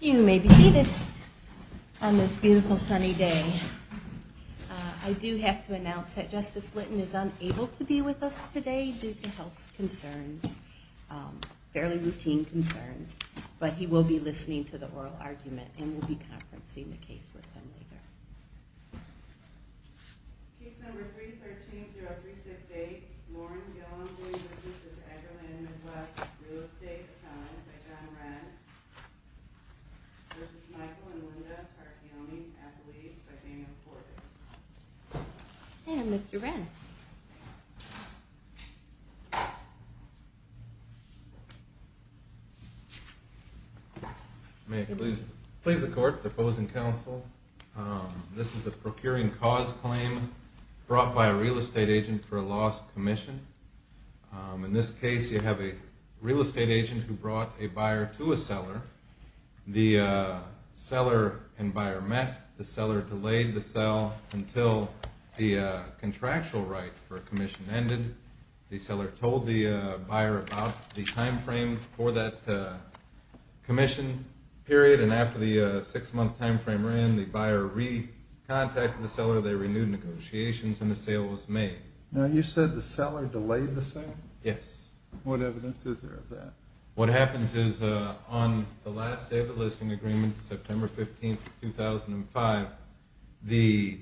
You may be seated on this beautiful sunny day. I do have to announce that Justice Litton is unable to be with us today due to health concerns, fairly routine concerns, but he will be listening to the oral argument and we'll be conferencing the case with him later. Case number 313-0368, Lauren Gillum v. Mr. Edgar Lynn Midwest Real Estate Accountant by John Wren v. Michael and Linda Tarochione, athletes by Daniel Portis. And Mr. Wren. May it please the court, the opposing counsel. This is a procuring cause claim brought by a real estate agent for a lost commission. In this case you have a real estate agent who brought a buyer to a seller. The seller and buyer met. The seller delayed the sale until the contractual right for a commission ended. The seller told the buyer about the time frame for that commission period, and after the six-month time frame ran, the buyer re-contacted the seller, they renewed negotiations, and the sale was made. Now you said the seller delayed the sale? Yes. What evidence is there of that? What happens is on the last day of the listing agreement, September 15th, 2005, the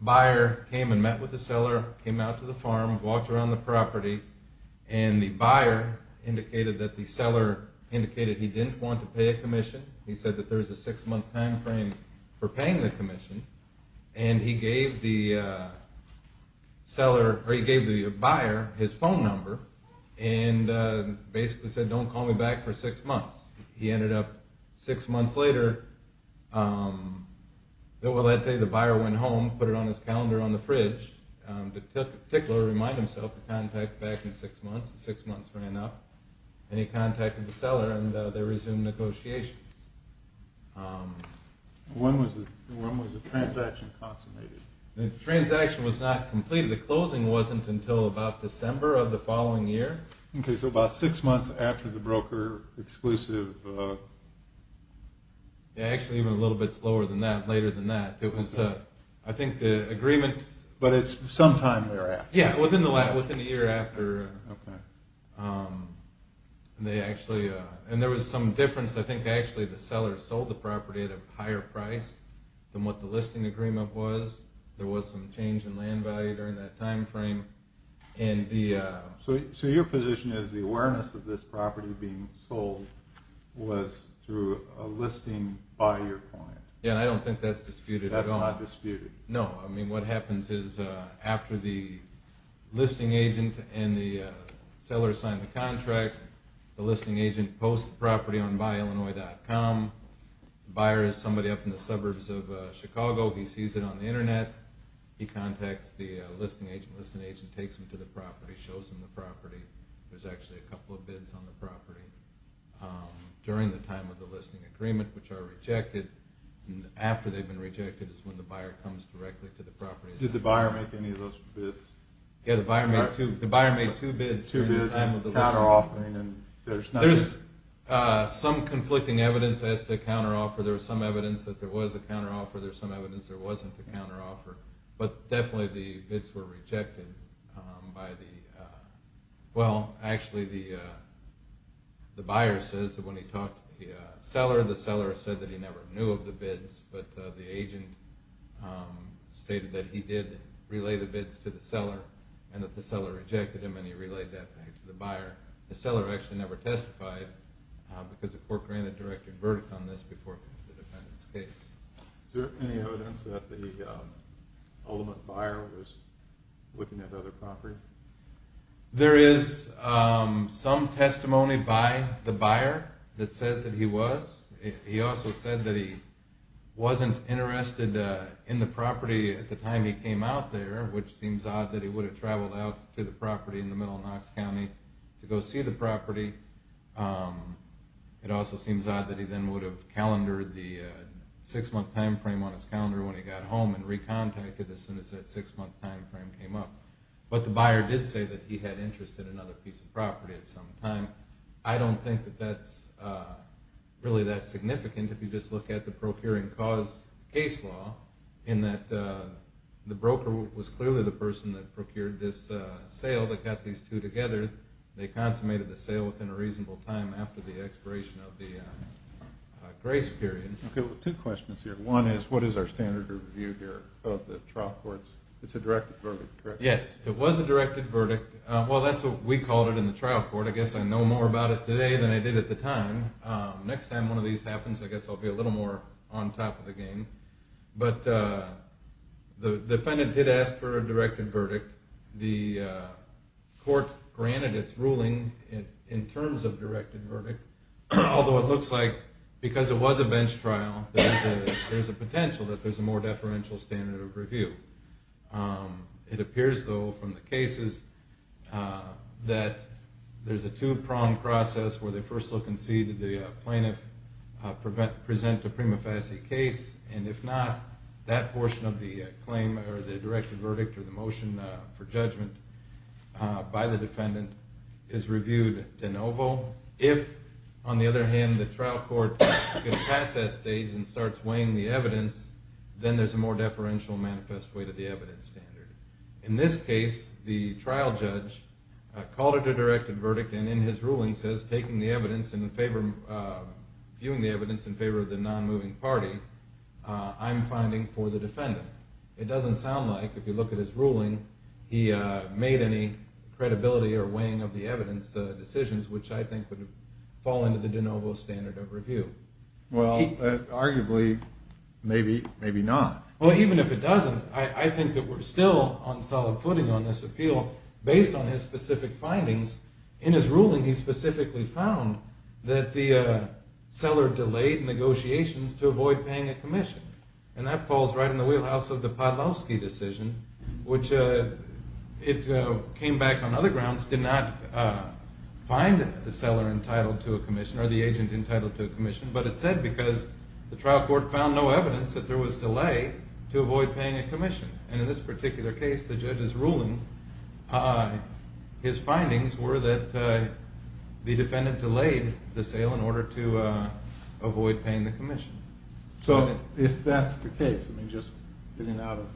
buyer came and met with the seller, came out to the farm, walked around the property, and the buyer indicated that the seller indicated he didn't want to pay a commission. He said that there was a six-month time frame for paying the commission, and he gave the buyer his phone number and basically said don't call me back for six months. He ended up, six months later, the buyer went home, put it on his calendar on the fridge, particularly to remind himself to contact back in six months. And he contacted the seller and they resumed negotiations. When was the transaction consummated? The transaction was not completed. The closing wasn't until about December of the following year. Okay, so about six months after the broker exclusive. Yeah, actually even a little bit slower than that, later than that. I think the agreement… But it's sometime thereafter. Yeah, within the year after. And there was some difference. I think actually the seller sold the property at a higher price than what the listing agreement was. There was some change in land value during that time frame. So your position is the awareness of this property being sold was through a listing by your client? Yeah, I don't think that's disputed at all. That's not disputed? No, I mean what happens is after the listing agent and the seller sign the contract, the listing agent posts the property on BuyIllinois.com. The buyer is somebody up in the suburbs of Chicago. He sees it on the internet. He contacts the listing agent. The listing agent takes him to the property, shows him the property. There's actually a couple of bids on the property during the time of the listing agreement, which are rejected. And after they've been rejected is when the buyer comes directly to the property. Did the buyer make any of those bids? Yeah, the buyer made two bids during the time of the listing agreement. Counter-offering? There's some conflicting evidence as to a counter-offer. There's some evidence that there was a counter-offer. There's some evidence there wasn't a counter-offer. But definitely the bids were rejected. Well, actually the buyer says that when he talked to the seller, the seller said that he never knew of the bids. But the agent stated that he did relay the bids to the seller and that the seller rejected them and he relayed that back to the buyer. The seller actually never testified because the court granted directed verdict on this before the defendant's case. Is there any evidence that the ultimate buyer was looking at other property? There is some testimony by the buyer that says that he was. He also said that he wasn't interested in the property at the time he came out there, which seems odd that he would have traveled out to the property in the middle of Knox County to go see the property. It also seems odd that he then would have calendared the six-month time frame on his calendar when he got home and recontacted as soon as that six-month time frame came up. But the buyer did say that he had interest in another piece of property at some time. I don't think that that's really that significant if you just look at the procuring cause case law, in that the broker was clearly the person that procured this sale that got these two together. They consummated the sale within a reasonable time after the expiration of the grace period. Two questions here. One is what is our standard of review here of the trial courts? It's a directed verdict, correct? Yes, it was a directed verdict. Well, that's what we called it in the trial court. I guess I know more about it today than I did at the time. Next time one of these happens, I guess I'll be a little more on top of the game. But the defendant did ask for a directed verdict. The court granted its ruling in terms of directed verdict, although it looks like because it was a bench trial, there's a potential that there's a more deferential standard of review. It appears, though, from the cases that there's a two-prong process where they first look and see did the plaintiff present a prima facie case, and if not, that portion of the claim or the directed verdict or the motion for judgment by the defendant is reviewed de novo. If, on the other hand, the trial court gets past that stage and starts weighing the evidence, then there's a more deferential manifest way to the evidence standard. In this case, the trial judge called it a directed verdict and in his ruling says, viewing the evidence in favor of the non-moving party, I'm finding for the defendant. It doesn't sound like, if you look at his ruling, he made any credibility or weighing of the evidence decisions, which I think would fall into the de novo standard of review. Well, arguably, maybe not. Well, even if it doesn't, I think that we're still on solid footing on this appeal based on his specific findings. In his ruling, he specifically found that the seller delayed negotiations to avoid paying a commission. And that falls right in the wheelhouse of the Podlowski decision, which it came back on other grounds, did not find the seller entitled to a commission or the agent entitled to a commission, but it said because the trial court found no evidence that there was delay to avoid paying a commission. And in this particular case, the judge's ruling, his findings were that the defendant delayed the sale in order to avoid paying the commission. So if that's the case, I mean, just getting out of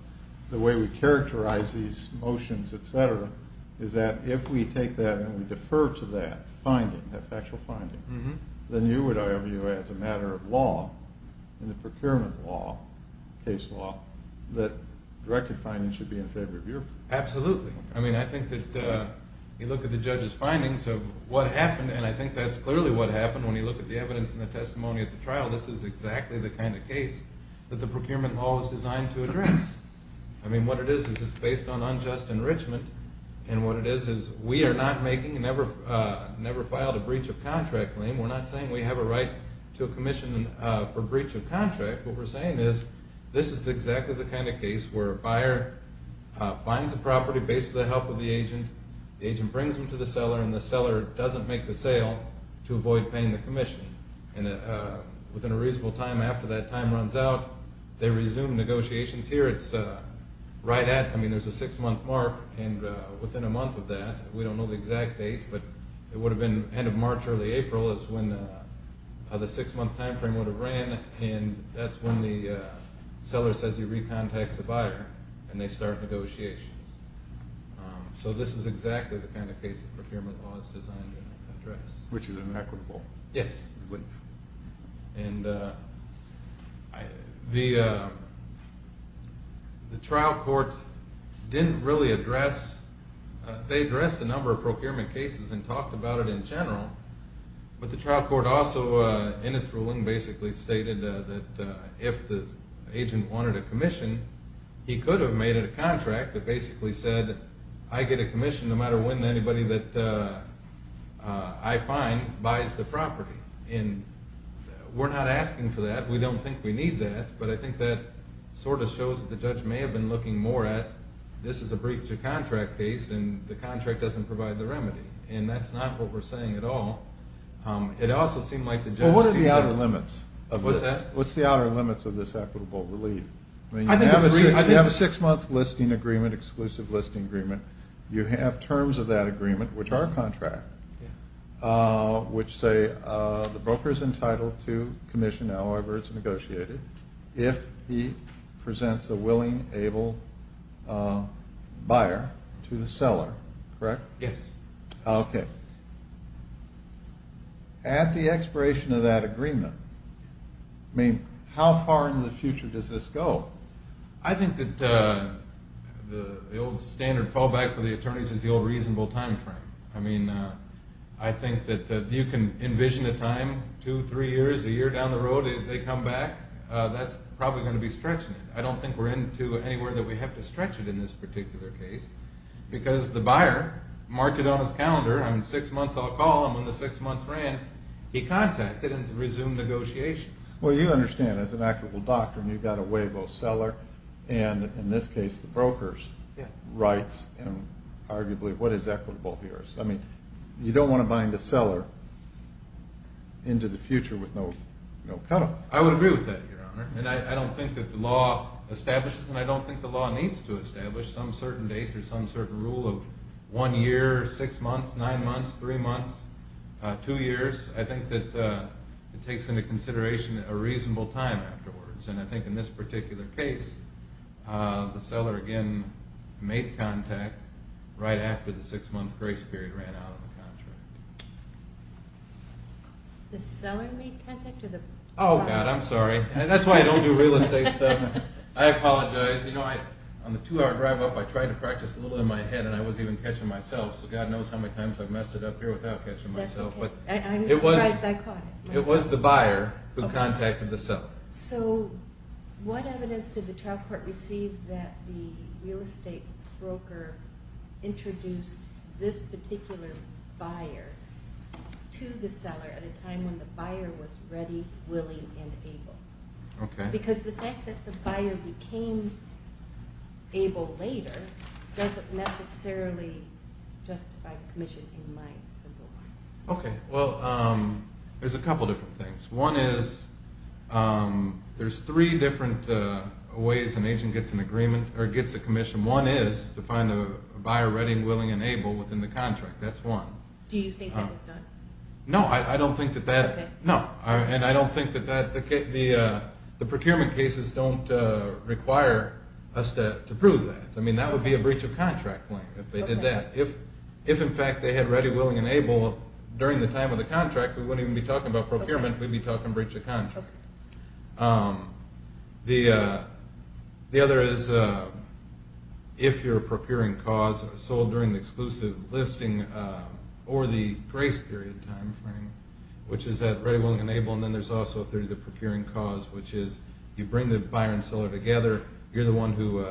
the way we characterize these motions, etc., is that if we take that and we defer to that finding, that factual finding, then you would argue as a matter of law, in the procurement law, case law, that directed finding should be in favor of your opinion. Absolutely. I mean, I think that you look at the judge's findings of what happened, and I think that's clearly what happened when you look at the evidence and the testimony of the trial. This is exactly the kind of case that the procurement law was designed to address. I mean, what it is is it's based on unjust enrichment, and what it is is we are not making, never filed a breach of contract claim. We're not saying we have a right to a commission for breach of contract. What we're saying is this is exactly the kind of case where a buyer finds a property based on the help of the agent. The agent brings them to the seller, and the seller doesn't make the sale to avoid paying the commission. And within a reasonable time after that time runs out, they resume negotiations here. It's right at, I mean, there's a six-month mark, and within a month of that, we don't know the exact date, but it would have been end of March, early April is when the six-month time frame would have ran, and that's when the seller says he recontacts the buyer, and they start negotiations. So this is exactly the kind of case that procurement law is designed to address. Which is inequitable. Yes. And the trial court didn't really address, they addressed a number of procurement cases and talked about it in general, but the trial court also in its ruling basically stated that if the agent wanted a commission, he could have made it a contract that basically said, I get a commission no matter when anybody that I find buys the property. And we're not asking for that. We don't think we need that. But I think that sort of shows that the judge may have been looking more at this is a breach of contract case, and the contract doesn't provide the remedy. And that's not what we're saying at all. It also seemed like the judge seemed to be. Well, what are the outer limits? What's that? What's the outer limits of this equitable relief? You have a six-month listing agreement, exclusive listing agreement. You have terms of that agreement, which are contract, which say the broker is entitled to commission, however it's negotiated, if he presents a willing, able buyer to the seller. Correct? Yes. Okay. At the expiration of that agreement, I mean, how far in the future does this go? I think that the old standard fallback for the attorneys is the old reasonable timeframe. I mean, I think that you can envision a time, two, three years, a year down the road, if they come back, that's probably going to be stretching it. I don't think we're into anywhere that we have to stretch it in this particular case, because the buyer marked it on his calendar. I mean, six months I'll call, and when the six months ran, he contacted and resumed negotiations. Well, you understand, as an equitable doctrine, you've got to weigh both seller and, in this case, the broker's rights and arguably what is equitable here. So, I mean, you don't want to bind a seller into the future with no cutoff. I would agree with that, Your Honor, and I don't think that the law establishes and I don't think the law needs to establish some certain date or some certain rule of one year, six months, nine months, three months, two years. I think that it takes into consideration a reasonable time afterwards, and I think in this particular case, the seller, again, made contact right after the six-month grace period ran out of the contract. The seller made contact or the buyer? Oh, God, I'm sorry. That's why I don't do real estate stuff. I apologize. You know, on the two-hour drive up, I tried to practice a little in my head, and I was even catching myself, so God knows how many times I've messed it up here without catching myself. That's okay. I'm surprised I caught it. It was the buyer who contacted the seller. So what evidence did the trial court receive that the real estate broker introduced this particular buyer to the seller at a time when the buyer was ready, willing, and able? Okay. Because the fact that the buyer became able later doesn't necessarily justify commission in my simple mind. Okay. Well, there's a couple different things. One is there's three different ways an agent gets an agreement or gets a commission. One is to find a buyer ready, willing, and able within the contract. That's one. Do you think that was done? No. Okay. No, and I don't think that the procurement cases don't require us to prove that. I mean, that would be a breach of contract claim if they did that. If, in fact, they had ready, willing, and able during the time of the contract, we wouldn't even be talking about procurement. Okay. The other is if you're a procuring cause sold during the exclusive listing or the grace period time frame, which is that ready, willing, and able, and then there's also through the procuring cause, which is you bring the buyer and seller together. You're the one who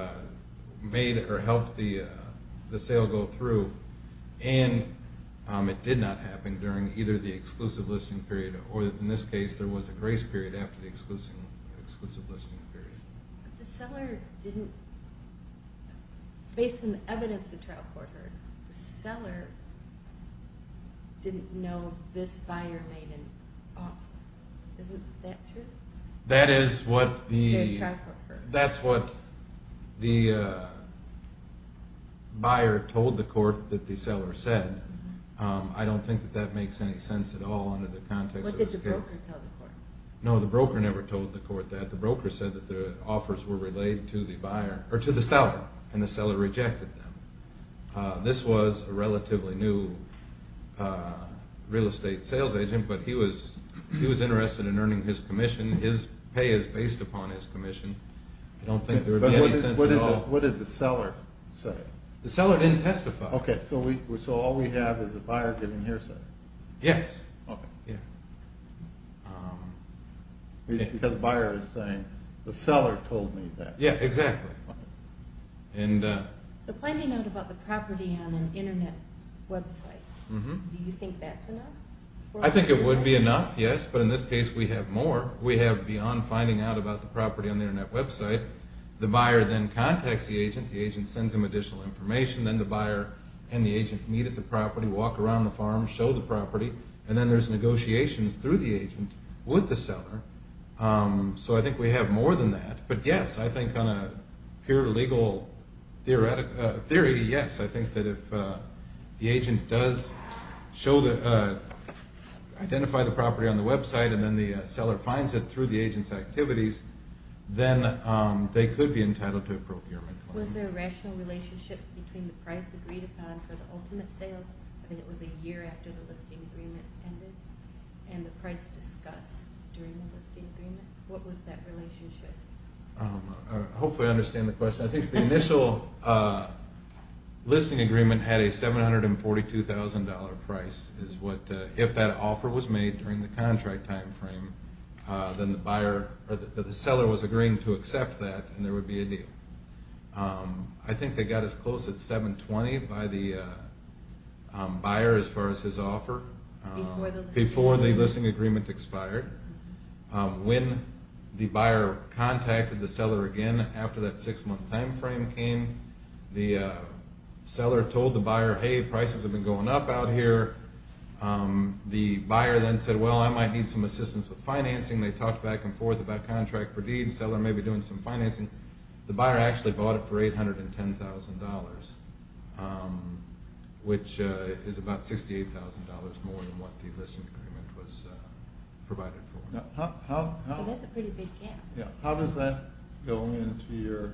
made or helped the sale go through, and it did not happen during either the exclusive listing period or, in this case, there was a grace period after the exclusive listing period. But the seller didn't, based on the evidence the trial court heard, the seller didn't know this buyer made an offer. Isn't that true? That is what the... The trial court heard. That's what the buyer told the court that the seller said. I don't think that that makes any sense at all under the context of this case. The broker told the court. No, the broker never told the court that. The broker said that the offers were relayed to the buyer, or to the seller, and the seller rejected them. This was a relatively new real estate sales agent, but he was interested in earning his commission. His pay is based upon his commission. I don't think there would be any sense at all... But what did the seller say? The seller didn't testify. Okay, so all we have is a buyer getting hearsay. Yes. Because the buyer is saying, the seller told me that. Yeah, exactly. So finding out about the property on an Internet website, do you think that's enough? I think it would be enough, yes. But in this case we have more. We have beyond finding out about the property on the Internet website, the buyer then contacts the agent. The agent sends him additional information. Then the buyer and the agent meet at the property, walk around the farm, show the property, and then there's negotiations through the agent with the seller. So I think we have more than that. But, yes, I think on a pure legal theory, yes, I think that if the agent does identify the property on the website and then the seller finds it through the agent's activities, then they could be entitled to a procurement claim. Was there a rational relationship between the price agreed upon for the ultimate sale? I think it was a year after the listing agreement ended, and the price discussed during the listing agreement. What was that relationship? Hopefully I understand the question. I think the initial listing agreement had a $742,000 price. If that offer was made during the contract time frame, then the seller was agreeing to accept that and there would be a deal. I think they got as close as $720,000 by the buyer as far as his offer before the listing agreement expired. When the buyer contacted the seller again after that 6-month time frame came, the seller told the buyer, hey, prices have been going up out here. The buyer then said, well, I might need some assistance with financing. They talked back and forth about contract per deed. The buyer actually bought it for $810,000, which is about $68,000 more than what the listing agreement was provided for. So that's a pretty big gap. How does that go into your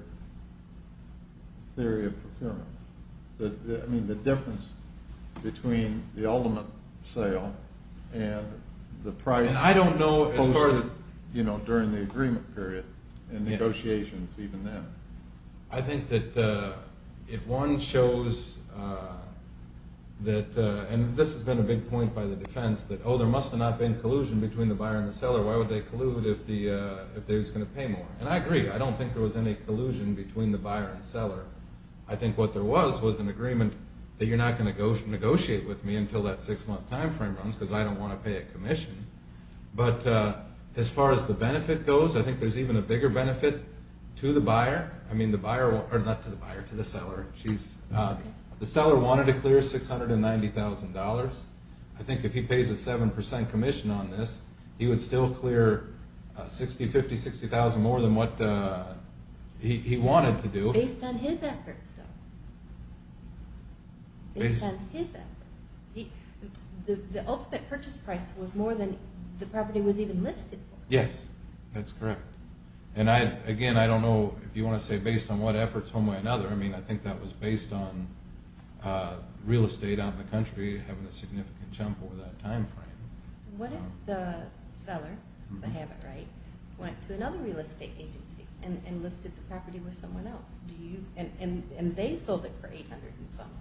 theory of procurement? The difference between the ultimate sale and the price posted during the agreement period and negotiations even then. I think that if one shows that, and this has been a big point by the defense, that, oh, there must have not been collusion between the buyer and the seller. Why would they collude if they were just going to pay more? And I agree. I don't think there was any collusion between the buyer and seller. I think what there was was an agreement that you're not going to negotiate with me until that 6-month time frame runs because I don't want to pay a commission. But as far as the benefit goes, I think there's even a bigger benefit to the buyer. I mean, the buyer, or not to the buyer, to the seller. The seller wanted to clear $690,000. I think if he pays a 7% commission on this, he would still clear $60,000, $50,000, $60,000 more than what he wanted to do. Based on his efforts, though. Based on his efforts. The ultimate purchase price was more than the property was even listed for. Yes, that's correct. And, again, I don't know if you want to say based on what efforts, one way or another. I mean, I think that was based on real estate out in the country having a significant jump over that time frame. What if the seller, if I have it right, went to another real estate agency and listed the property with someone else? And they sold it for $800,000 and something.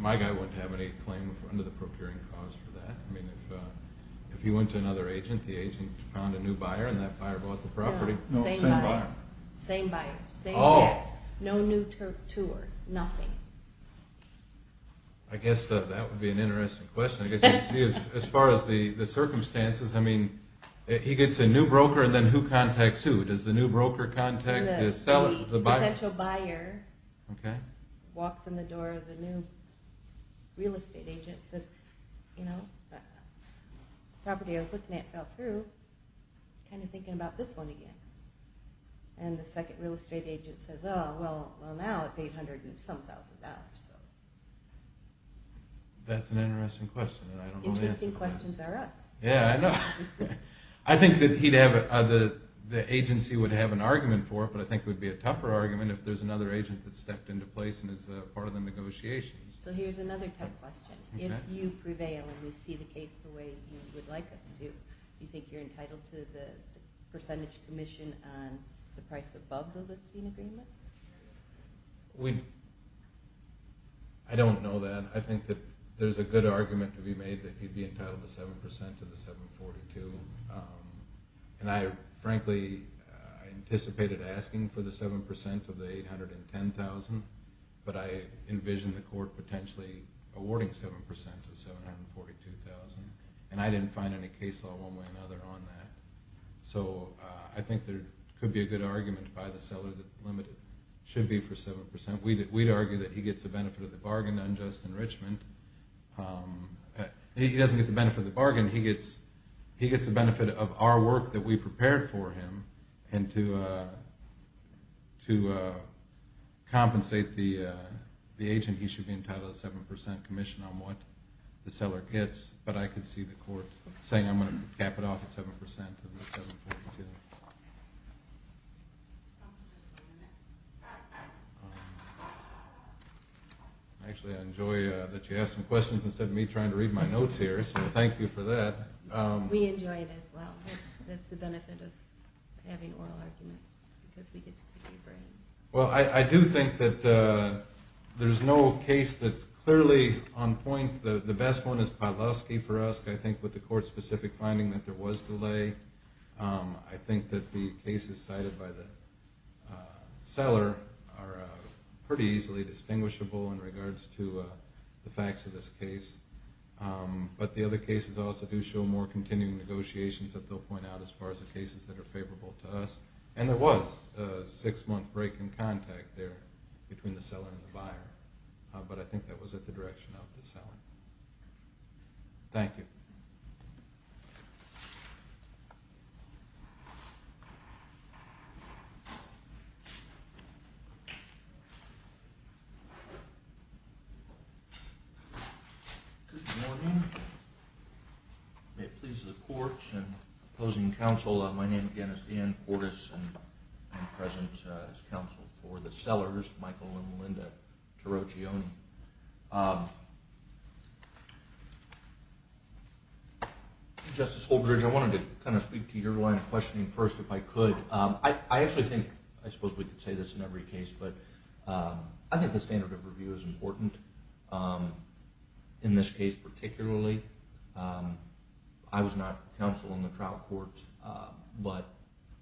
My guy wouldn't have any claim under the procuring clause for that. I mean, if he went to another agent, the agent found a new buyer, and that buyer bought the property. No, same buyer. Same buyer. No new tour. Nothing. I guess that would be an interesting question. As far as the circumstances, I mean, he gets a new broker, and then who contacts who? Does the new broker contact the seller? The potential buyer walks in the door of the new real estate agent and says, you know, the property I was looking at fell through. I'm kind of thinking about this one again. And the second real estate agent says, oh, well, now it's $800,000 and some thousand dollars. That's an interesting question, and I don't know the answer to that. Interesting questions are us. Yeah, I know. The agency would have an argument for it, but I think it would be a tougher argument if there's another agent that stepped into place and is part of the negotiations. So here's another tough question. If you prevail and we see the case the way you would like us to, do you think you're entitled to the percentage commission on the price above the listing agreement? I don't know that. I think that there's a good argument to be made that he'd be entitled to 7% of the 742, and I frankly anticipated asking for the 7% of the 810,000, but I envision the court potentially awarding 7% of 742,000, and I didn't find any case law one way or another on that. So I think there could be a good argument by the seller that the limit should be for 7%. We'd argue that he gets the benefit of the bargain, unjust enrichment. He doesn't get the benefit of the bargain. He gets the benefit of our work that we prepared for him, and to compensate the agent, he should be entitled to 7% commission on what the seller gets, but I could see the court saying I'm going to cap it off at 7% of the 742. Actually, I enjoy that you asked some questions instead of me trying to read my notes here, so thank you for that. We enjoy it as well. That's the benefit of having oral arguments because we get to pick your brain. Well, I do think that there's no case that's clearly on point. The best one is Pawlowski for us. I think with the court-specific finding that there was delay. I think that the cases cited by the seller are pretty easily distinguishable in regards to the facts of this case, but the other cases also do show more continuing negotiations that they'll point out as far as the cases that are favorable to us, and there was a six-month break in contact there between the seller and the buyer, but I think that was at the direction of the seller. Thank you. Good morning. May it please the court and opposing counsel, my name, again, is Ian Cortis, and I'm present as counsel for the sellers, Michael and Melinda Tarocchione. Justice Holdridge, I wanted to kind of speak to your line of questioning first if I could. I actually think I suppose we could say this in every case, but I think the standard of review is important in this case particularly. I was not counsel in the trial court, but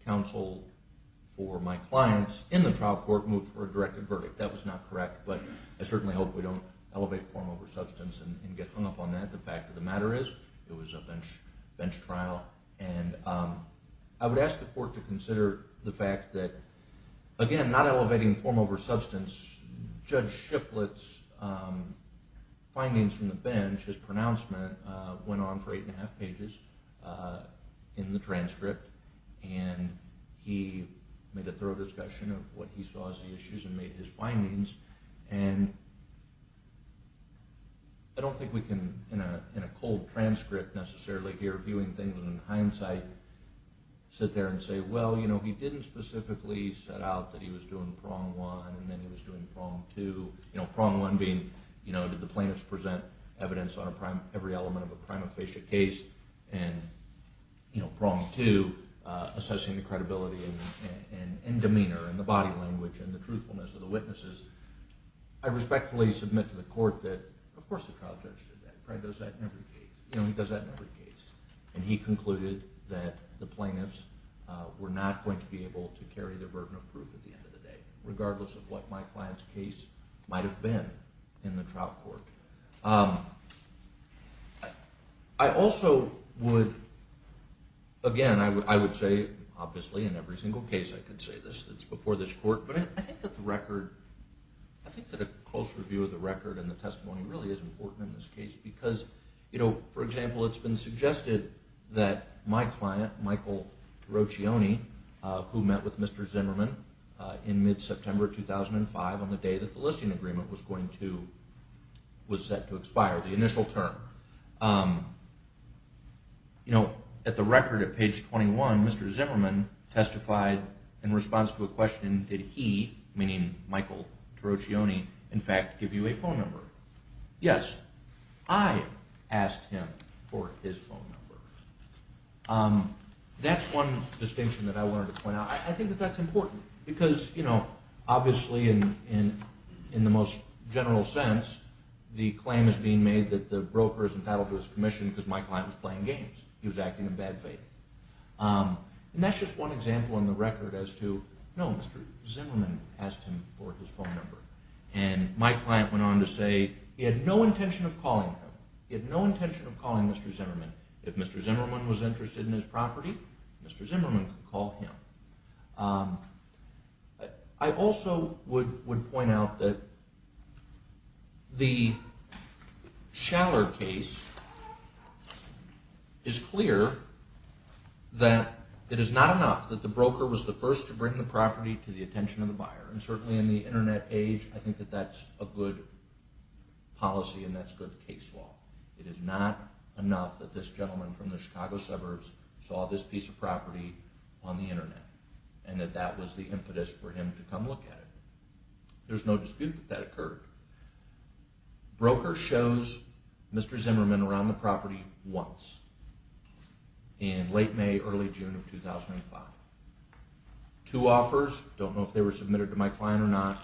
counsel for my clients in the trial court moved for a directed verdict. That was not correct, but I certainly hope we don't elevate form over substance and get hung up on that. The fact of the matter is it was a bench trial, and I would ask the court to consider the fact that, again, not elevating form over substance, Judge Shiplett's findings from the bench, his pronouncement, went on for eight and a half pages in the transcript, and he made a thorough discussion of what he saw as the issues and made his findings, and I don't think we can, in a cold transcript necessarily here, viewing things in hindsight, sit there and say, well, he didn't specifically set out that he was doing prong one and then he was doing prong two, prong one being did the plaintiffs present evidence on every element of a prima facie case, and prong two assessing the credibility and demeanor and the body language and the truthfulness of the witnesses, I respectfully submit to the court that, of course, the trial judge did that. Fred does that in every case. He does that in every case, and he concluded that the plaintiffs were not going to be able to carry the burden of proof at the end of the day, regardless of what my client's case might have been in the trial court. I also would, again, I would say, obviously, in every single case I could say this, it's before this court, but I think that the record, I think that a close review of the record and the testimony really is important in this case because, you know, for example, it's been suggested that my client, Michael Roccioni, who met with Mr. Zimmerman in mid-September 2005 on the day that the listing agreement was going to, was set to expire, the initial term, you know, at the record at page 21, Mr. Zimmerman testified in response to a question, did he, meaning Michael Roccioni, in fact, give you a phone number? Yes, I asked him for his phone number. That's one distinction that I wanted to point out. I think that that's important because, you know, obviously, in the most general sense, the claim is being made that the broker is entitled to his commission because my client was playing games. He was acting in bad faith. And that's just one example on the record as to, no, Mr. Zimmerman asked him for his phone number. And my client went on to say he had no intention of calling him. He had no intention of calling Mr. Zimmerman. If Mr. Zimmerman was interested in his property, Mr. Zimmerman could call him. I also would point out that the Schaller case is clear that it is not enough that the broker was the first to bring the property to the attention of the buyer. And certainly in the Internet age, I think that that's a good policy and that's good case law. It is not enough that this gentleman from the Chicago suburbs saw this piece of property on the Internet and that that was the impetus for him to come look at it. There's no dispute that that occurred. Broker shows Mr. Zimmerman around the property once in late May, early June of 2005. Two offers, don't know if they were submitted to my client or not.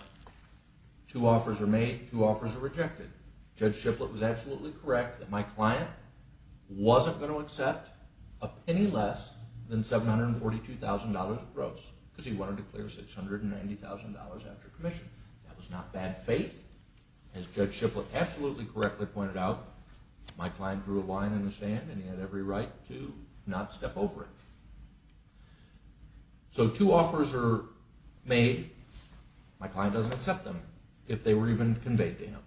Two offers are made, two offers are rejected. Judge Shiplet was absolutely correct that my client wasn't going to accept any less than $742,000 of gross because he wanted to clear $690,000 after commission. That was not bad faith. As Judge Shiplet absolutely correctly pointed out, my client drew a line in the sand and he had every right to not step over it. So two offers are made, my client doesn't accept them if they were even conveyed to him.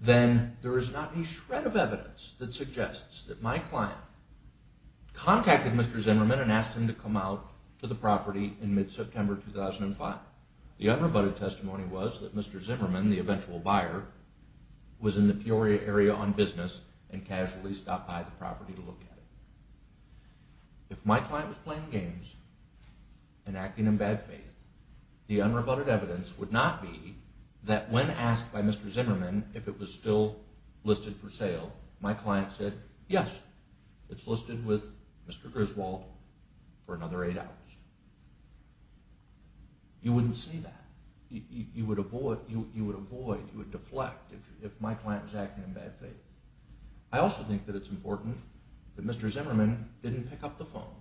Then there is not a shred of evidence that suggests that my client contacted Mr. Zimmerman and asked him to come out to the property in mid-September 2005. The unrebutted testimony was that Mr. Zimmerman, the eventual buyer, was in the Peoria area on business and casually stopped by the property to look at it. If my client was playing games and acting in bad faith, the unrebutted evidence would not be that when asked by Mr. Zimmerman if it was still listed for sale, my client said, yes, it's listed with Mr. Griswold for another eight hours. You wouldn't see that. You would avoid, you would deflect if my client was acting in bad faith. I also think that it's important that Mr. Zimmerman didn't pick up the phone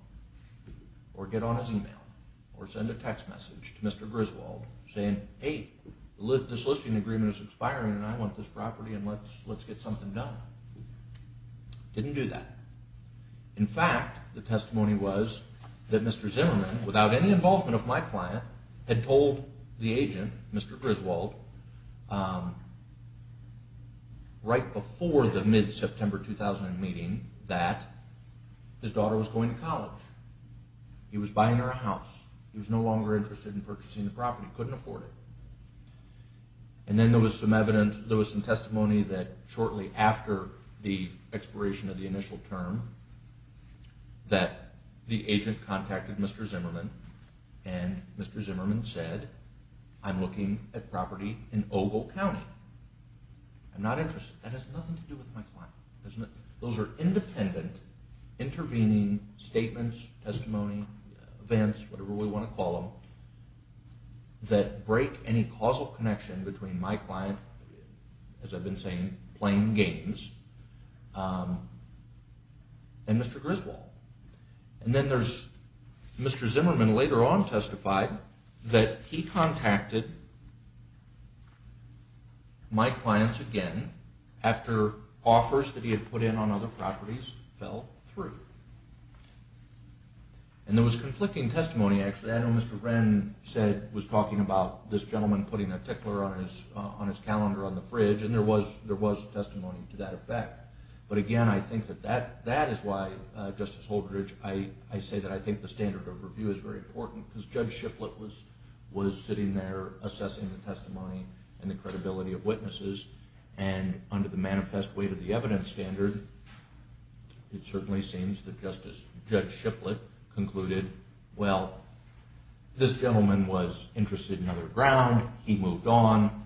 or get on his email or send a text message to Mr. Griswold saying, hey, this listing agreement is expiring and I want this property and let's get something done. Didn't do that. In fact, the testimony was that Mr. Zimmerman, without any involvement of my client, had told the agent, Mr. Griswold, right before the mid-September 2000 meeting that his daughter was going to college. He was buying her a house. He was no longer interested in purchasing the property. Couldn't afford it. And then there was some testimony that shortly after the expiration of the initial term that the agent contacted Mr. Zimmerman and Mr. Zimmerman said, I'm looking at property in Ogle County. I'm not interested. That has nothing to do with my client. Those are independent, intervening statements, testimony, events, whatever we want to call them, that break any causal connection between my client, as I've been saying, playing games, and Mr. Griswold. And then there's Mr. Zimmerman later on testified that he contacted my clients again after offers that he had put in on other properties fell through. And there was conflicting testimony actually. I know Mr. Wren was talking about this gentleman putting a tickler on his calendar on the fridge and there was testimony to that effect. But again, I think that that is why, Justice Holdredge, I say that I think the standard of review is very important because Judge Shiplett was sitting there assessing the testimony and the credibility of witnesses. And under the manifest weight of the evidence standard, it certainly seems that Judge Shiplett concluded, well, this gentleman was interested in other ground. He moved on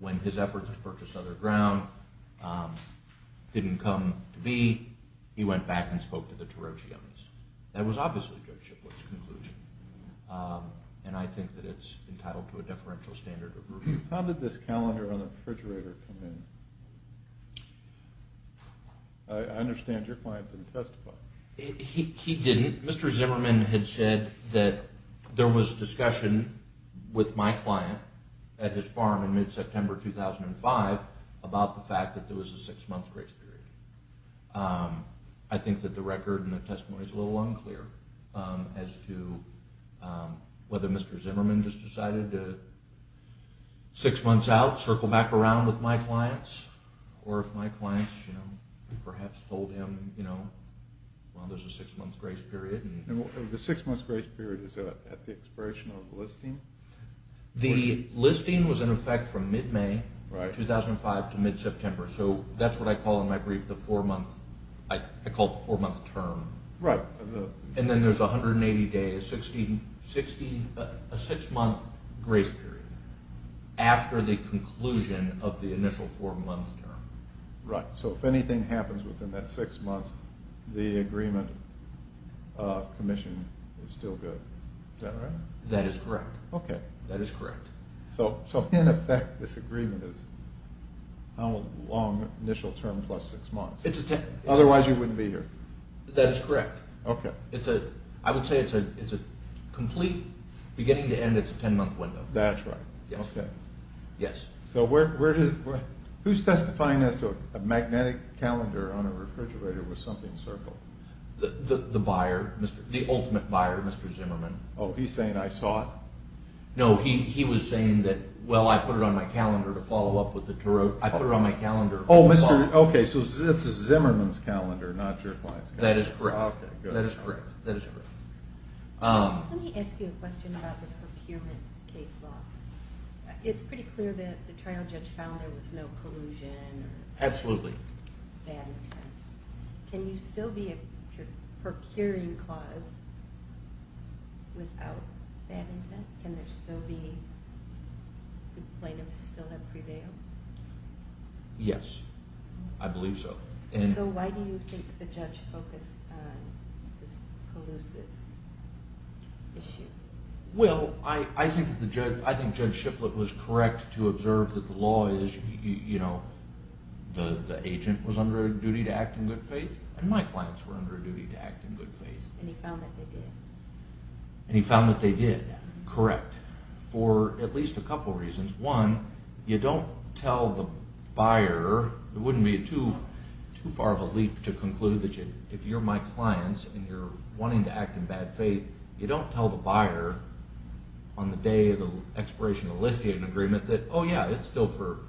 when his efforts to purchase other ground didn't come to be. He went back and spoke to the Tarocci on this. That was obviously Judge Shiplett's conclusion. And I think that it's entitled to a deferential standard of review. How did this calendar on the refrigerator come in? I understand your client didn't testify. He didn't. Mr. Zimmerman had said that there was discussion with my client at his farm in mid-September 2005 about the fact that there was a six-month grace period. I think that the record and the testimony is a little unclear as to whether Mr. Zimmerman just decided to six months out, circle back around with my clients, or if my clients perhaps told him, well, there's a six-month grace period. The six-month grace period is at the expiration of the listing? The listing was in effect from mid-May 2005 to mid-September. So that's what I call in my brief the four-month term. And then there's 180 days, a six-month grace period after the conclusion of the initial four-month term. Right. So if anything happens within that six months, the agreement of commission is still good. Is that right? That is correct. Okay. That is correct. So in effect, this agreement is how long initial term plus six months. Otherwise you wouldn't be here. That is correct. Okay. I would say it's a complete beginning-to-end, it's a ten-month window. That's right. Yes. Okay. Yes. So who's testifying as to a magnetic calendar on a refrigerator with something circled? The buyer, the ultimate buyer, Mr. Zimmerman. Oh, he's saying I saw it? No, he was saying that, well, I put it on my calendar to follow up with the tarot. I put it on my calendar. Oh, okay, so it's Zimmerman's calendar, not your client's calendar. That is correct. Okay, good. That is correct. Let me ask you a question about the procurement case law. It's pretty clear that the trial judge found there was no collusion or bad intent. Absolutely. Can you still be a procuring clause without bad intent? Can there still be plaintiffs still have pre-bail? Yes, I believe so. So why do you think the judge focused on this collusive issue? Well, I think Judge Shiplett was correct to observe that the law is, you know, the agent was under a duty to act in good faith, and my clients were under a duty to act in good faith. And he found that they did? And he found that they did, correct, for at least a couple reasons. One, you don't tell the buyer. It wouldn't be too far of a leap to conclude that if you're my clients and you're wanting to act in bad faith, you don't tell the buyer on the day of the expiration of the listing agreement that, oh, yeah, it's still for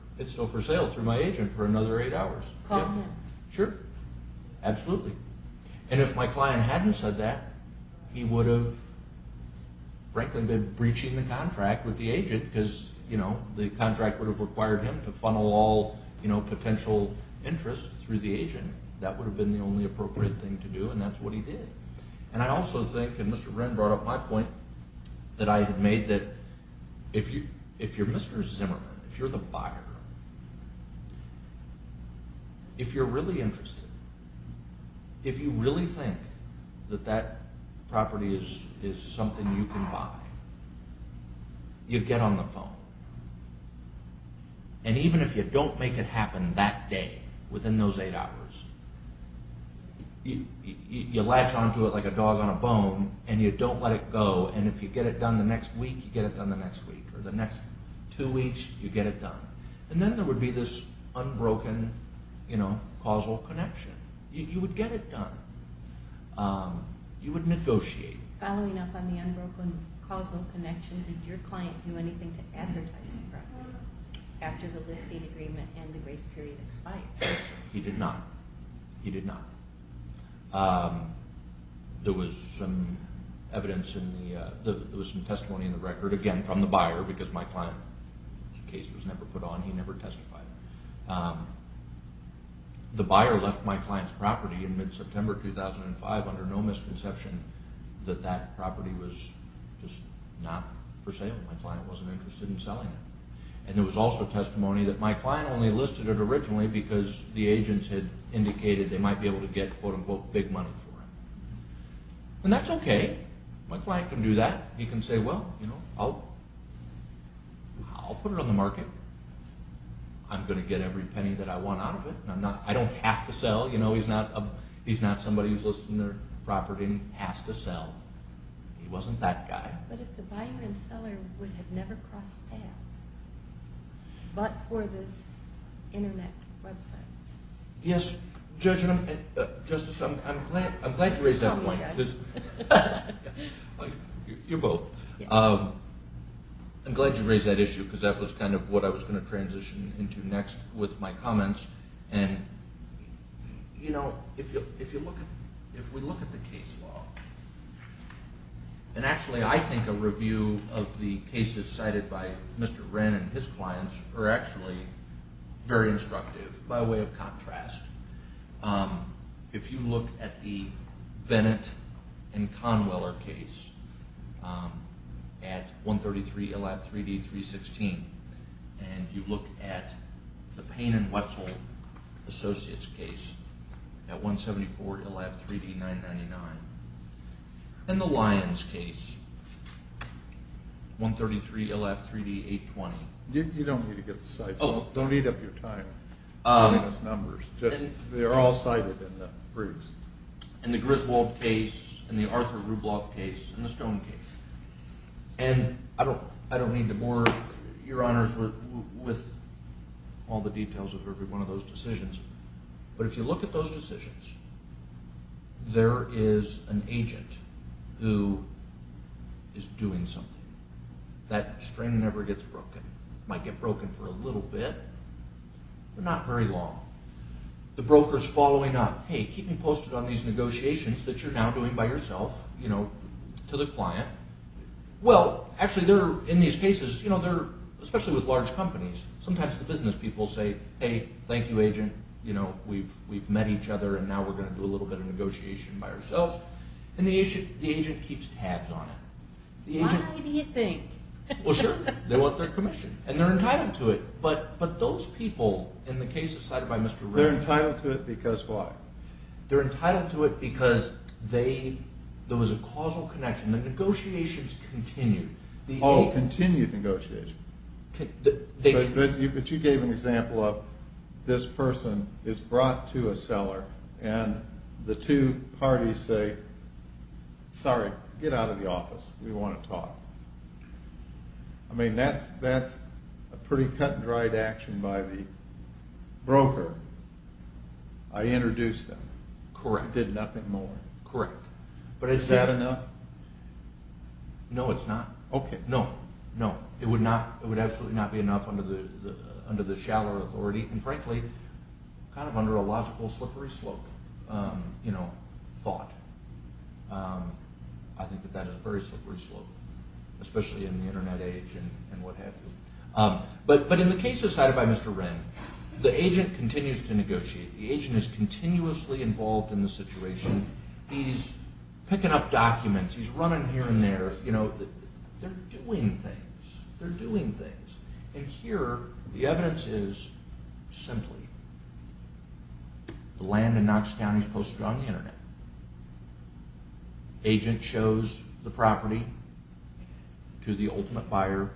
sale through my agent for another eight hours. Call him. Sure, absolutely. He wouldn't have been breaching the contract with the agent because, you know, the contract would have required him to funnel all, you know, potential interest through the agent. That would have been the only appropriate thing to do, and that's what he did. And I also think, and Mr. Wren brought up my point that I had made, that if you're Mr. Zimmerman, if you're the buyer, if you're really interested, if you really think that that property is something you can buy, you get on the phone. And even if you don't make it happen that day, within those eight hours, you latch onto it like a dog on a bone, and you don't let it go, and if you get it done the next week, you get it done the next week, or the next two weeks, you get it done. And then there would be this unbroken, you know, causal connection. You would get it done. You would negotiate. Following up on the unbroken causal connection, did your client do anything to advertise the property after the listing agreement and the grace period expired? He did not. He did not. There was some evidence in the, there was some testimony in the record, again, from the buyer, because my client's case was never put on. He never testified. The buyer left my client's property in mid-September 2005 under no misconception that that property was just not for sale. My client wasn't interested in selling it. And there was also testimony that my client only listed it originally because the agents had indicated they might be able to get, quote-unquote, big money for it. And that's okay. My client can do that. He can say, well, you know, I'll put it on the market. I'm going to get every penny that I want out of it. I don't have to sell. You know, he's not somebody who's listed their property and has to sell. He wasn't that guy. But if the buyer and seller would have never crossed paths, but for this Internet website? Yes, Judge, and Justice, I'm glad you raised that point. You're both. I'm glad you raised that issue, because that was kind of what I was going to transition into next with my comments. And, you know, if we look at the case law, and actually I think a review of the cases cited by Mr. Wren and his clients are actually very instructive by way of contrast. If you look at the Bennett and Conweller case at 133, 3D, 316, and you look at the Payne and Wetzel Associates case at 174, 3D, 999, and the Lyons case, 133, 3D, 820. You don't need to get the size. Don't eat up your time giving us numbers. They're all cited in the briefs. And the Griswold case and the Arthur Rubloff case and the Stone case. And I don't need to bore Your Honors with all the details of every one of those decisions. But if you look at those decisions, there is an agent who is doing something. That string never gets broken. It might get broken for a little bit, but not very long. The broker's following up, hey, keep me posted on these negotiations that you're now doing by yourself to the client. Well, actually, in these cases, especially with large companies, sometimes the business people say, hey, thank you, agent. We've met each other, and now we're going to do a little bit of negotiation by ourselves. And the agent keeps tabs on it. Why do you think? Well, sure, they want their commission, and they're entitled to it. But those people in the case decided by Mr. Rubloff. They're entitled to it because why? They're entitled to it because there was a causal connection. The negotiations continued. Oh, continued negotiations. But you gave an example of this person is brought to a cellar, and the two parties say, sorry, get out of the office. We want to talk. I mean, that's a pretty cut-and-dried action by the broker. I introduced them. Correct. I did nothing more. Correct. Is that enough? No, it's not. Okay. No, no. It would absolutely not be enough under the shallower authority, and frankly, kind of under a logical slippery slope thought. I think that that is a very slippery slope, especially in the Internet age and what have you. But in the case decided by Mr. Wren, the agent continues to negotiate. The agent is continuously involved in the situation. He's picking up documents. He's running here and there. They're doing things. They're doing things. And here the evidence is simply the land in Knox County is posted on the Internet. Agent shows the property to the ultimate buyer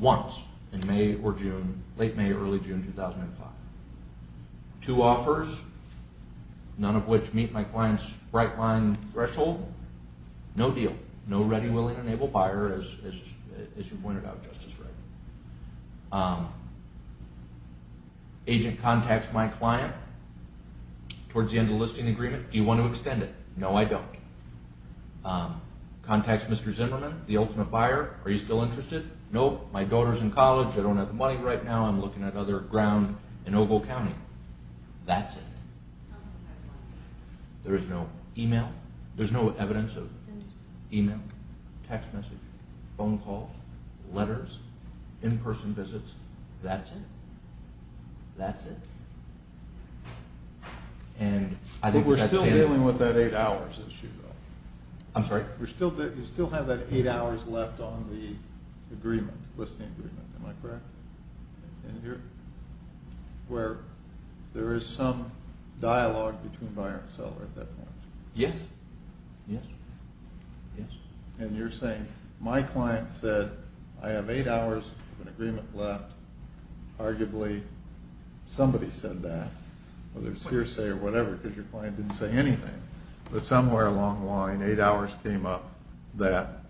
once in May or June, late May, early June 2005. Two offers, none of which meet my client's bright line threshold. No deal. No ready, willing, and able buyer, as you pointed out, Justice Wren. Agent contacts my client towards the end of the listing agreement. Do you want to extend it? No, I don't. Contacts Mr. Zimmerman, the ultimate buyer. Are you still interested? No, my daughter's in college. I don't have the money right now. I'm looking at other ground in Ogle County. That's it. There is no e-mail. There's no evidence of e-mail, text message, phone calls, letters, in-person visits. That's it. That's it. But we're still dealing with that eight hours issue, though. I'm sorry? You still have that eight hours left on the agreement, listing agreement. Am I correct? And you're where there is some dialogue between buyer and seller at that point. Yes. Yes. Yes. And you're saying my client said, I have eight hours of an agreement left. Arguably, somebody said that, whether it's hearsay or whatever, because your client didn't say anything. But somewhere along the line, eight hours came up that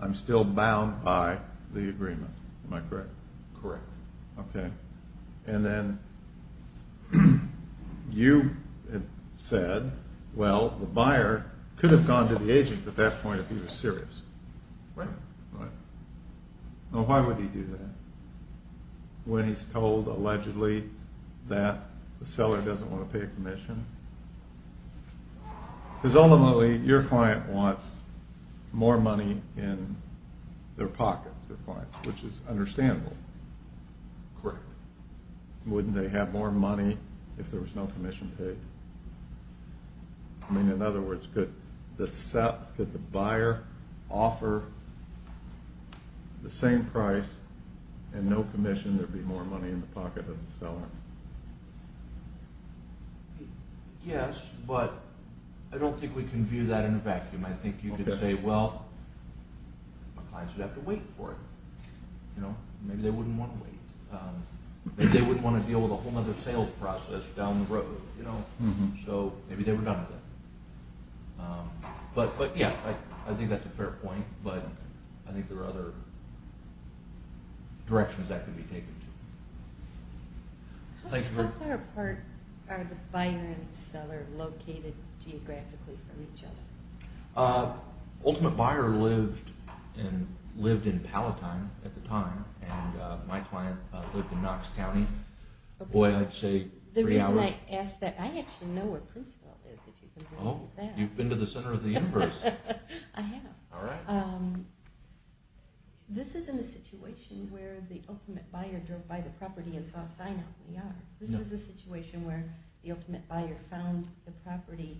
I'm still bound by the agreement. Am I correct? Correct. Okay. And then you had said, well, the buyer could have gone to the agent at that point if he was serious. Right. Right. Now, why would he do that when he's told, allegedly, that the seller doesn't want to pay a commission? Because ultimately, your client wants more money in their pockets, their clients, which is understandable. Correct. Wouldn't they have more money if there was no commission paid? I mean, in other words, could the buyer offer the same price and no commission, there'd be more money in the pocket of the seller? Yes, but I don't think we can view that in a vacuum. I think you could say, well, my clients would have to wait for it. Maybe they wouldn't want to wait. Maybe they wouldn't want to deal with a whole other sales process down the road. So maybe they were done with it. But yes, I think that's a fair point, but I think there are other directions that could be taken, too. How far apart are the buyer and seller located geographically from each other? Ultimate Buyer lived in Palatine at the time, and my client lived in Knox County. Boy, I'd say three hours. The reason I ask that, I actually know where Princeville is, if you can believe that. Oh, you've been to the center of the universe. I have. All right. This isn't a situation where the Ultimate Buyer drove by the property and saw a sign out in the yard. This is a situation where the Ultimate Buyer found the property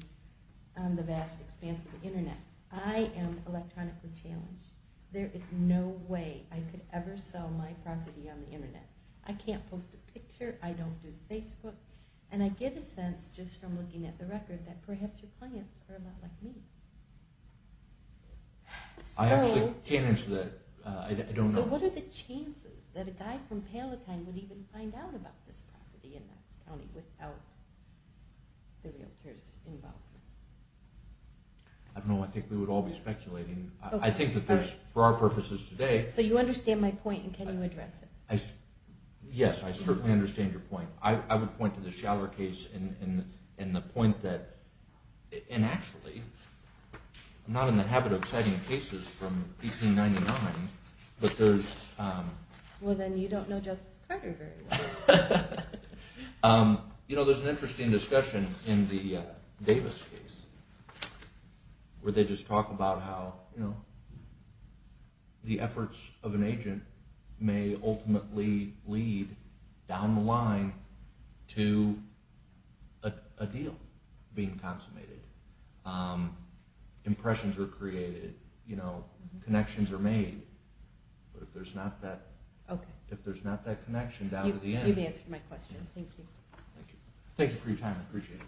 on the vast expanse of the Internet. I am electronically challenged. There is no way I could ever sell my property on the Internet. I can't post a picture. I don't do Facebook. And I get a sense, just from looking at the record, that perhaps your clients are a lot like me. I actually can't answer that. I don't know. So what are the chances that a guy from Palatine would even find out about this property in Knox County without the realtor's involvement? I don't know. I think we would all be speculating. I think that there's, for our purposes today— So you understand my point, and can you address it? Yes, I certainly understand your point. I would point to the Schaller case in the point that—and actually, I'm not in the habit of citing cases from 1899, but there's— Well, then you don't know Justice Carter very well. You know, there's an interesting discussion in the Davis case where they just talk about how the efforts of an agent may ultimately lead, down the line, to a deal being consummated. Impressions are created. Connections are made. But if there's not that connection down to the end— You've answered my question. Thank you. Thank you for your time. I appreciate it.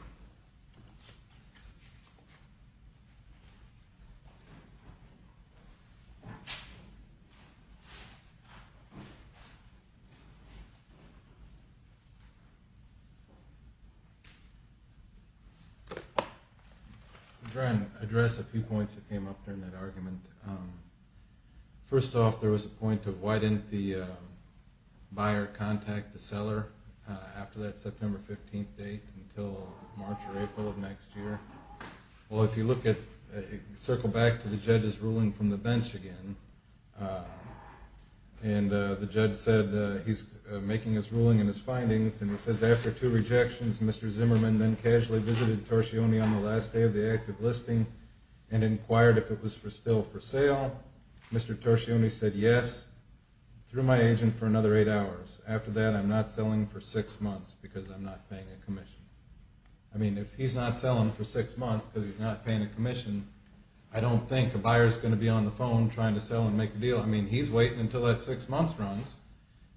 Thank you. I'll try and address a few points that came up during that argument. First off, there was a point of why didn't the buyer contact the seller after that September 15th date until March or April of next year? Well, if you look at—circle back to the judge's ruling from the bench again, and the judge said—he's making his ruling and his findings, and he says, After two rejections, Mr. Zimmerman then casually visited Torsione on the last day of the active listing and inquired if it was still for sale. Mr. Torsione said, Yes, through my agent for another eight hours. After that, I'm not selling for six months because I'm not paying a commission. I mean, if he's not selling for six months because he's not paying a commission, I don't think a buyer's going to be on the phone trying to sell and make a deal. I mean, he's waiting until that six months runs,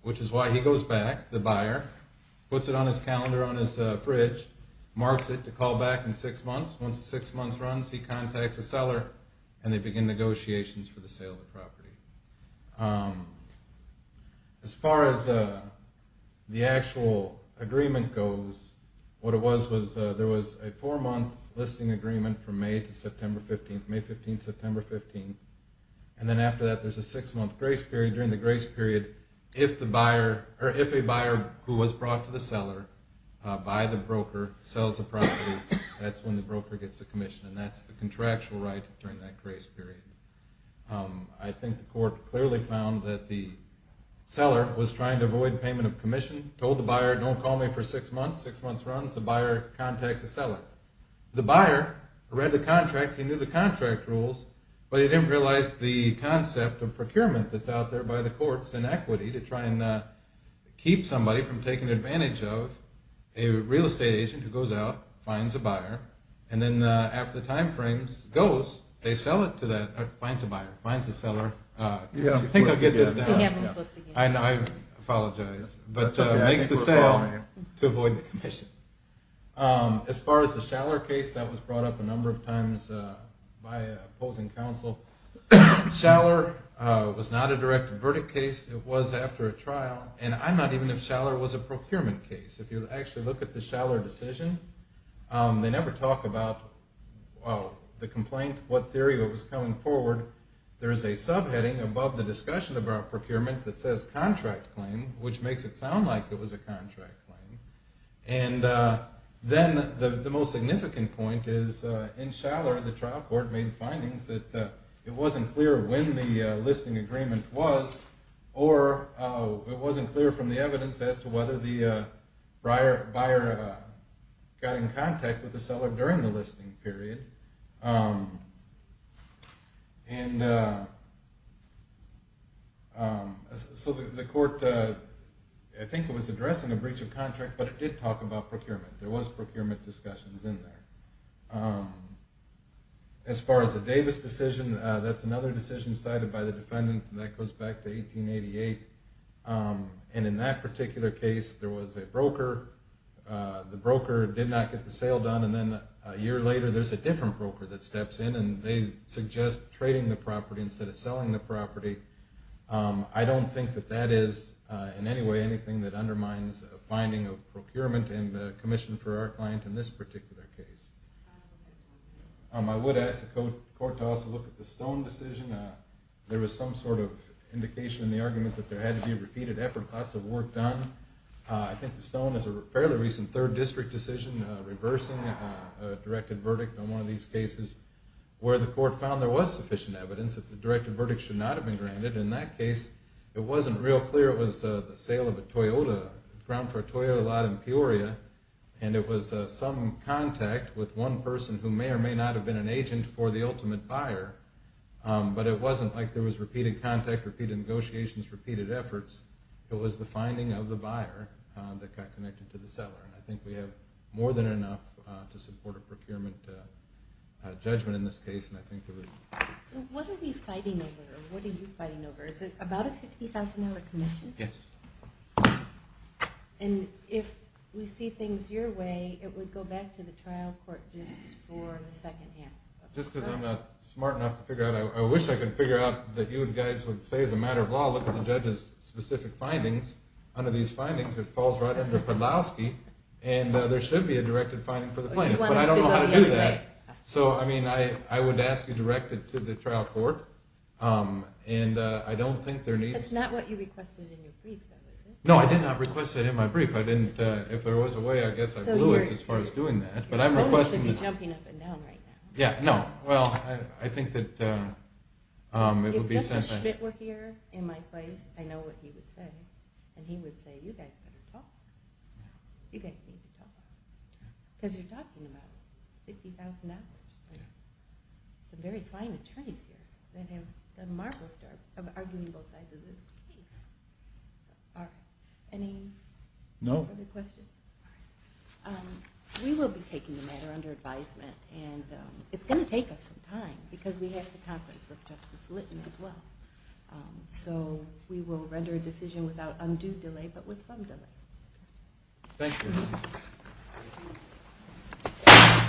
which is why he goes back, the buyer, puts it on his calendar on his fridge, marks it to call back in six months. Once the six months runs, he contacts the seller, and they begin negotiations for the sale of the property. As far as the actual agreement goes, what it was was there was a four-month listing agreement from May to September 15th, May 15th, September 15th, and then after that there's a six-month grace period. During the grace period, if a buyer who was brought to the seller by the broker sells the property, that's when the broker gets a commission, and that's the contractual right during that grace period. I think the court clearly found that the seller was trying to avoid payment of commission, told the buyer, don't call me for six months, six months runs, the buyer contacts the seller. The buyer read the contract, he knew the contract rules, but he didn't realize the concept of procurement that's out there by the courts and equity to try and keep somebody from taking advantage of a real estate agent who goes out, finds a buyer, and then after the time frame goes, they sell it to that, or finds a buyer, finds the seller. I think I'll get this down. I apologize, but makes the sale to avoid the commission. As far as the Schaller case, that was brought up a number of times by opposing counsel. Schaller was not a direct verdict case. It was after a trial, and I'm not even if Schaller was a procurement case. If you actually look at the Schaller decision, they never talk about the complaint, what theory was coming forward. There is a subheading above the discussion about procurement that says contract claim, which makes it sound like it was a contract claim, and then the most significant point is in Schaller, the trial court made findings that it wasn't clear when the listing agreement was, or it wasn't clear from the evidence as to whether the buyer got in contact with the seller during the listing period. And so the court, I think it was addressing a breach of contract, but it did talk about procurement. There was procurement discussions in there. As far as the Davis decision, that's another decision cited by the defendant, and that goes back to 1888. And in that particular case, there was a broker. The broker did not get the sale done, and then a year later, there's a different broker that steps in, and they suggest trading the property instead of selling the property. I don't think that that is in any way anything that undermines a finding of procurement and the commission for our client in this particular case. I would ask the court to also look at the Stone decision. There was some sort of indication in the argument that there had to be a repeated effort, lots of work done. I think the Stone is a fairly recent third district decision, reversing a directed verdict on one of these cases, where the court found there was sufficient evidence that the directed verdict should not have been granted. In that case, it wasn't real clear it was the sale of a Toyota, ground for a Toyota lot in Peoria, and it was some contact with one person who may or may not have been an agent for the ultimate buyer. But it wasn't like there was repeated contact, repeated negotiations, repeated efforts. It was the finding of the buyer that got connected to the seller. I think we have more than enough to support a procurement judgment in this case. So what are we fighting over, or what are you fighting over? Is it about a $50,000 commission? Yes. And if we see things your way, it would go back to the trial court just for the second hand. Just because I'm not smart enough to figure out, I wish I could figure out that you guys would say as a matter of law, look at the judge's specific findings, under these findings, it falls right under Podlowski, and there should be a directed finding for the plaintiff, but I don't know how to do that. So I mean, I would ask you to direct it to the trial court, and I don't think there needs to be... That's not what you requested in your brief, though, is it? No, I did not request it in my brief. If there was a way, I guess I blew it as far as doing that, but I'm requesting... Your phone should be jumping up and down right now. Yeah, no, well, I think that it would be... If Mr. Schmidt were here in my place, I know what he would say, and he would say, you guys better talk. You guys need to talk. Because you're talking about $50,000. Some very fine attorneys here that have done a marvelous job of arguing both sides of this case. Are there any other questions? We will be taking the matter under advisement, and it's going to take us some time, because we have the conference with Justice Litton as well. So we will render a decision without undue delay, but with some delay. Thank you.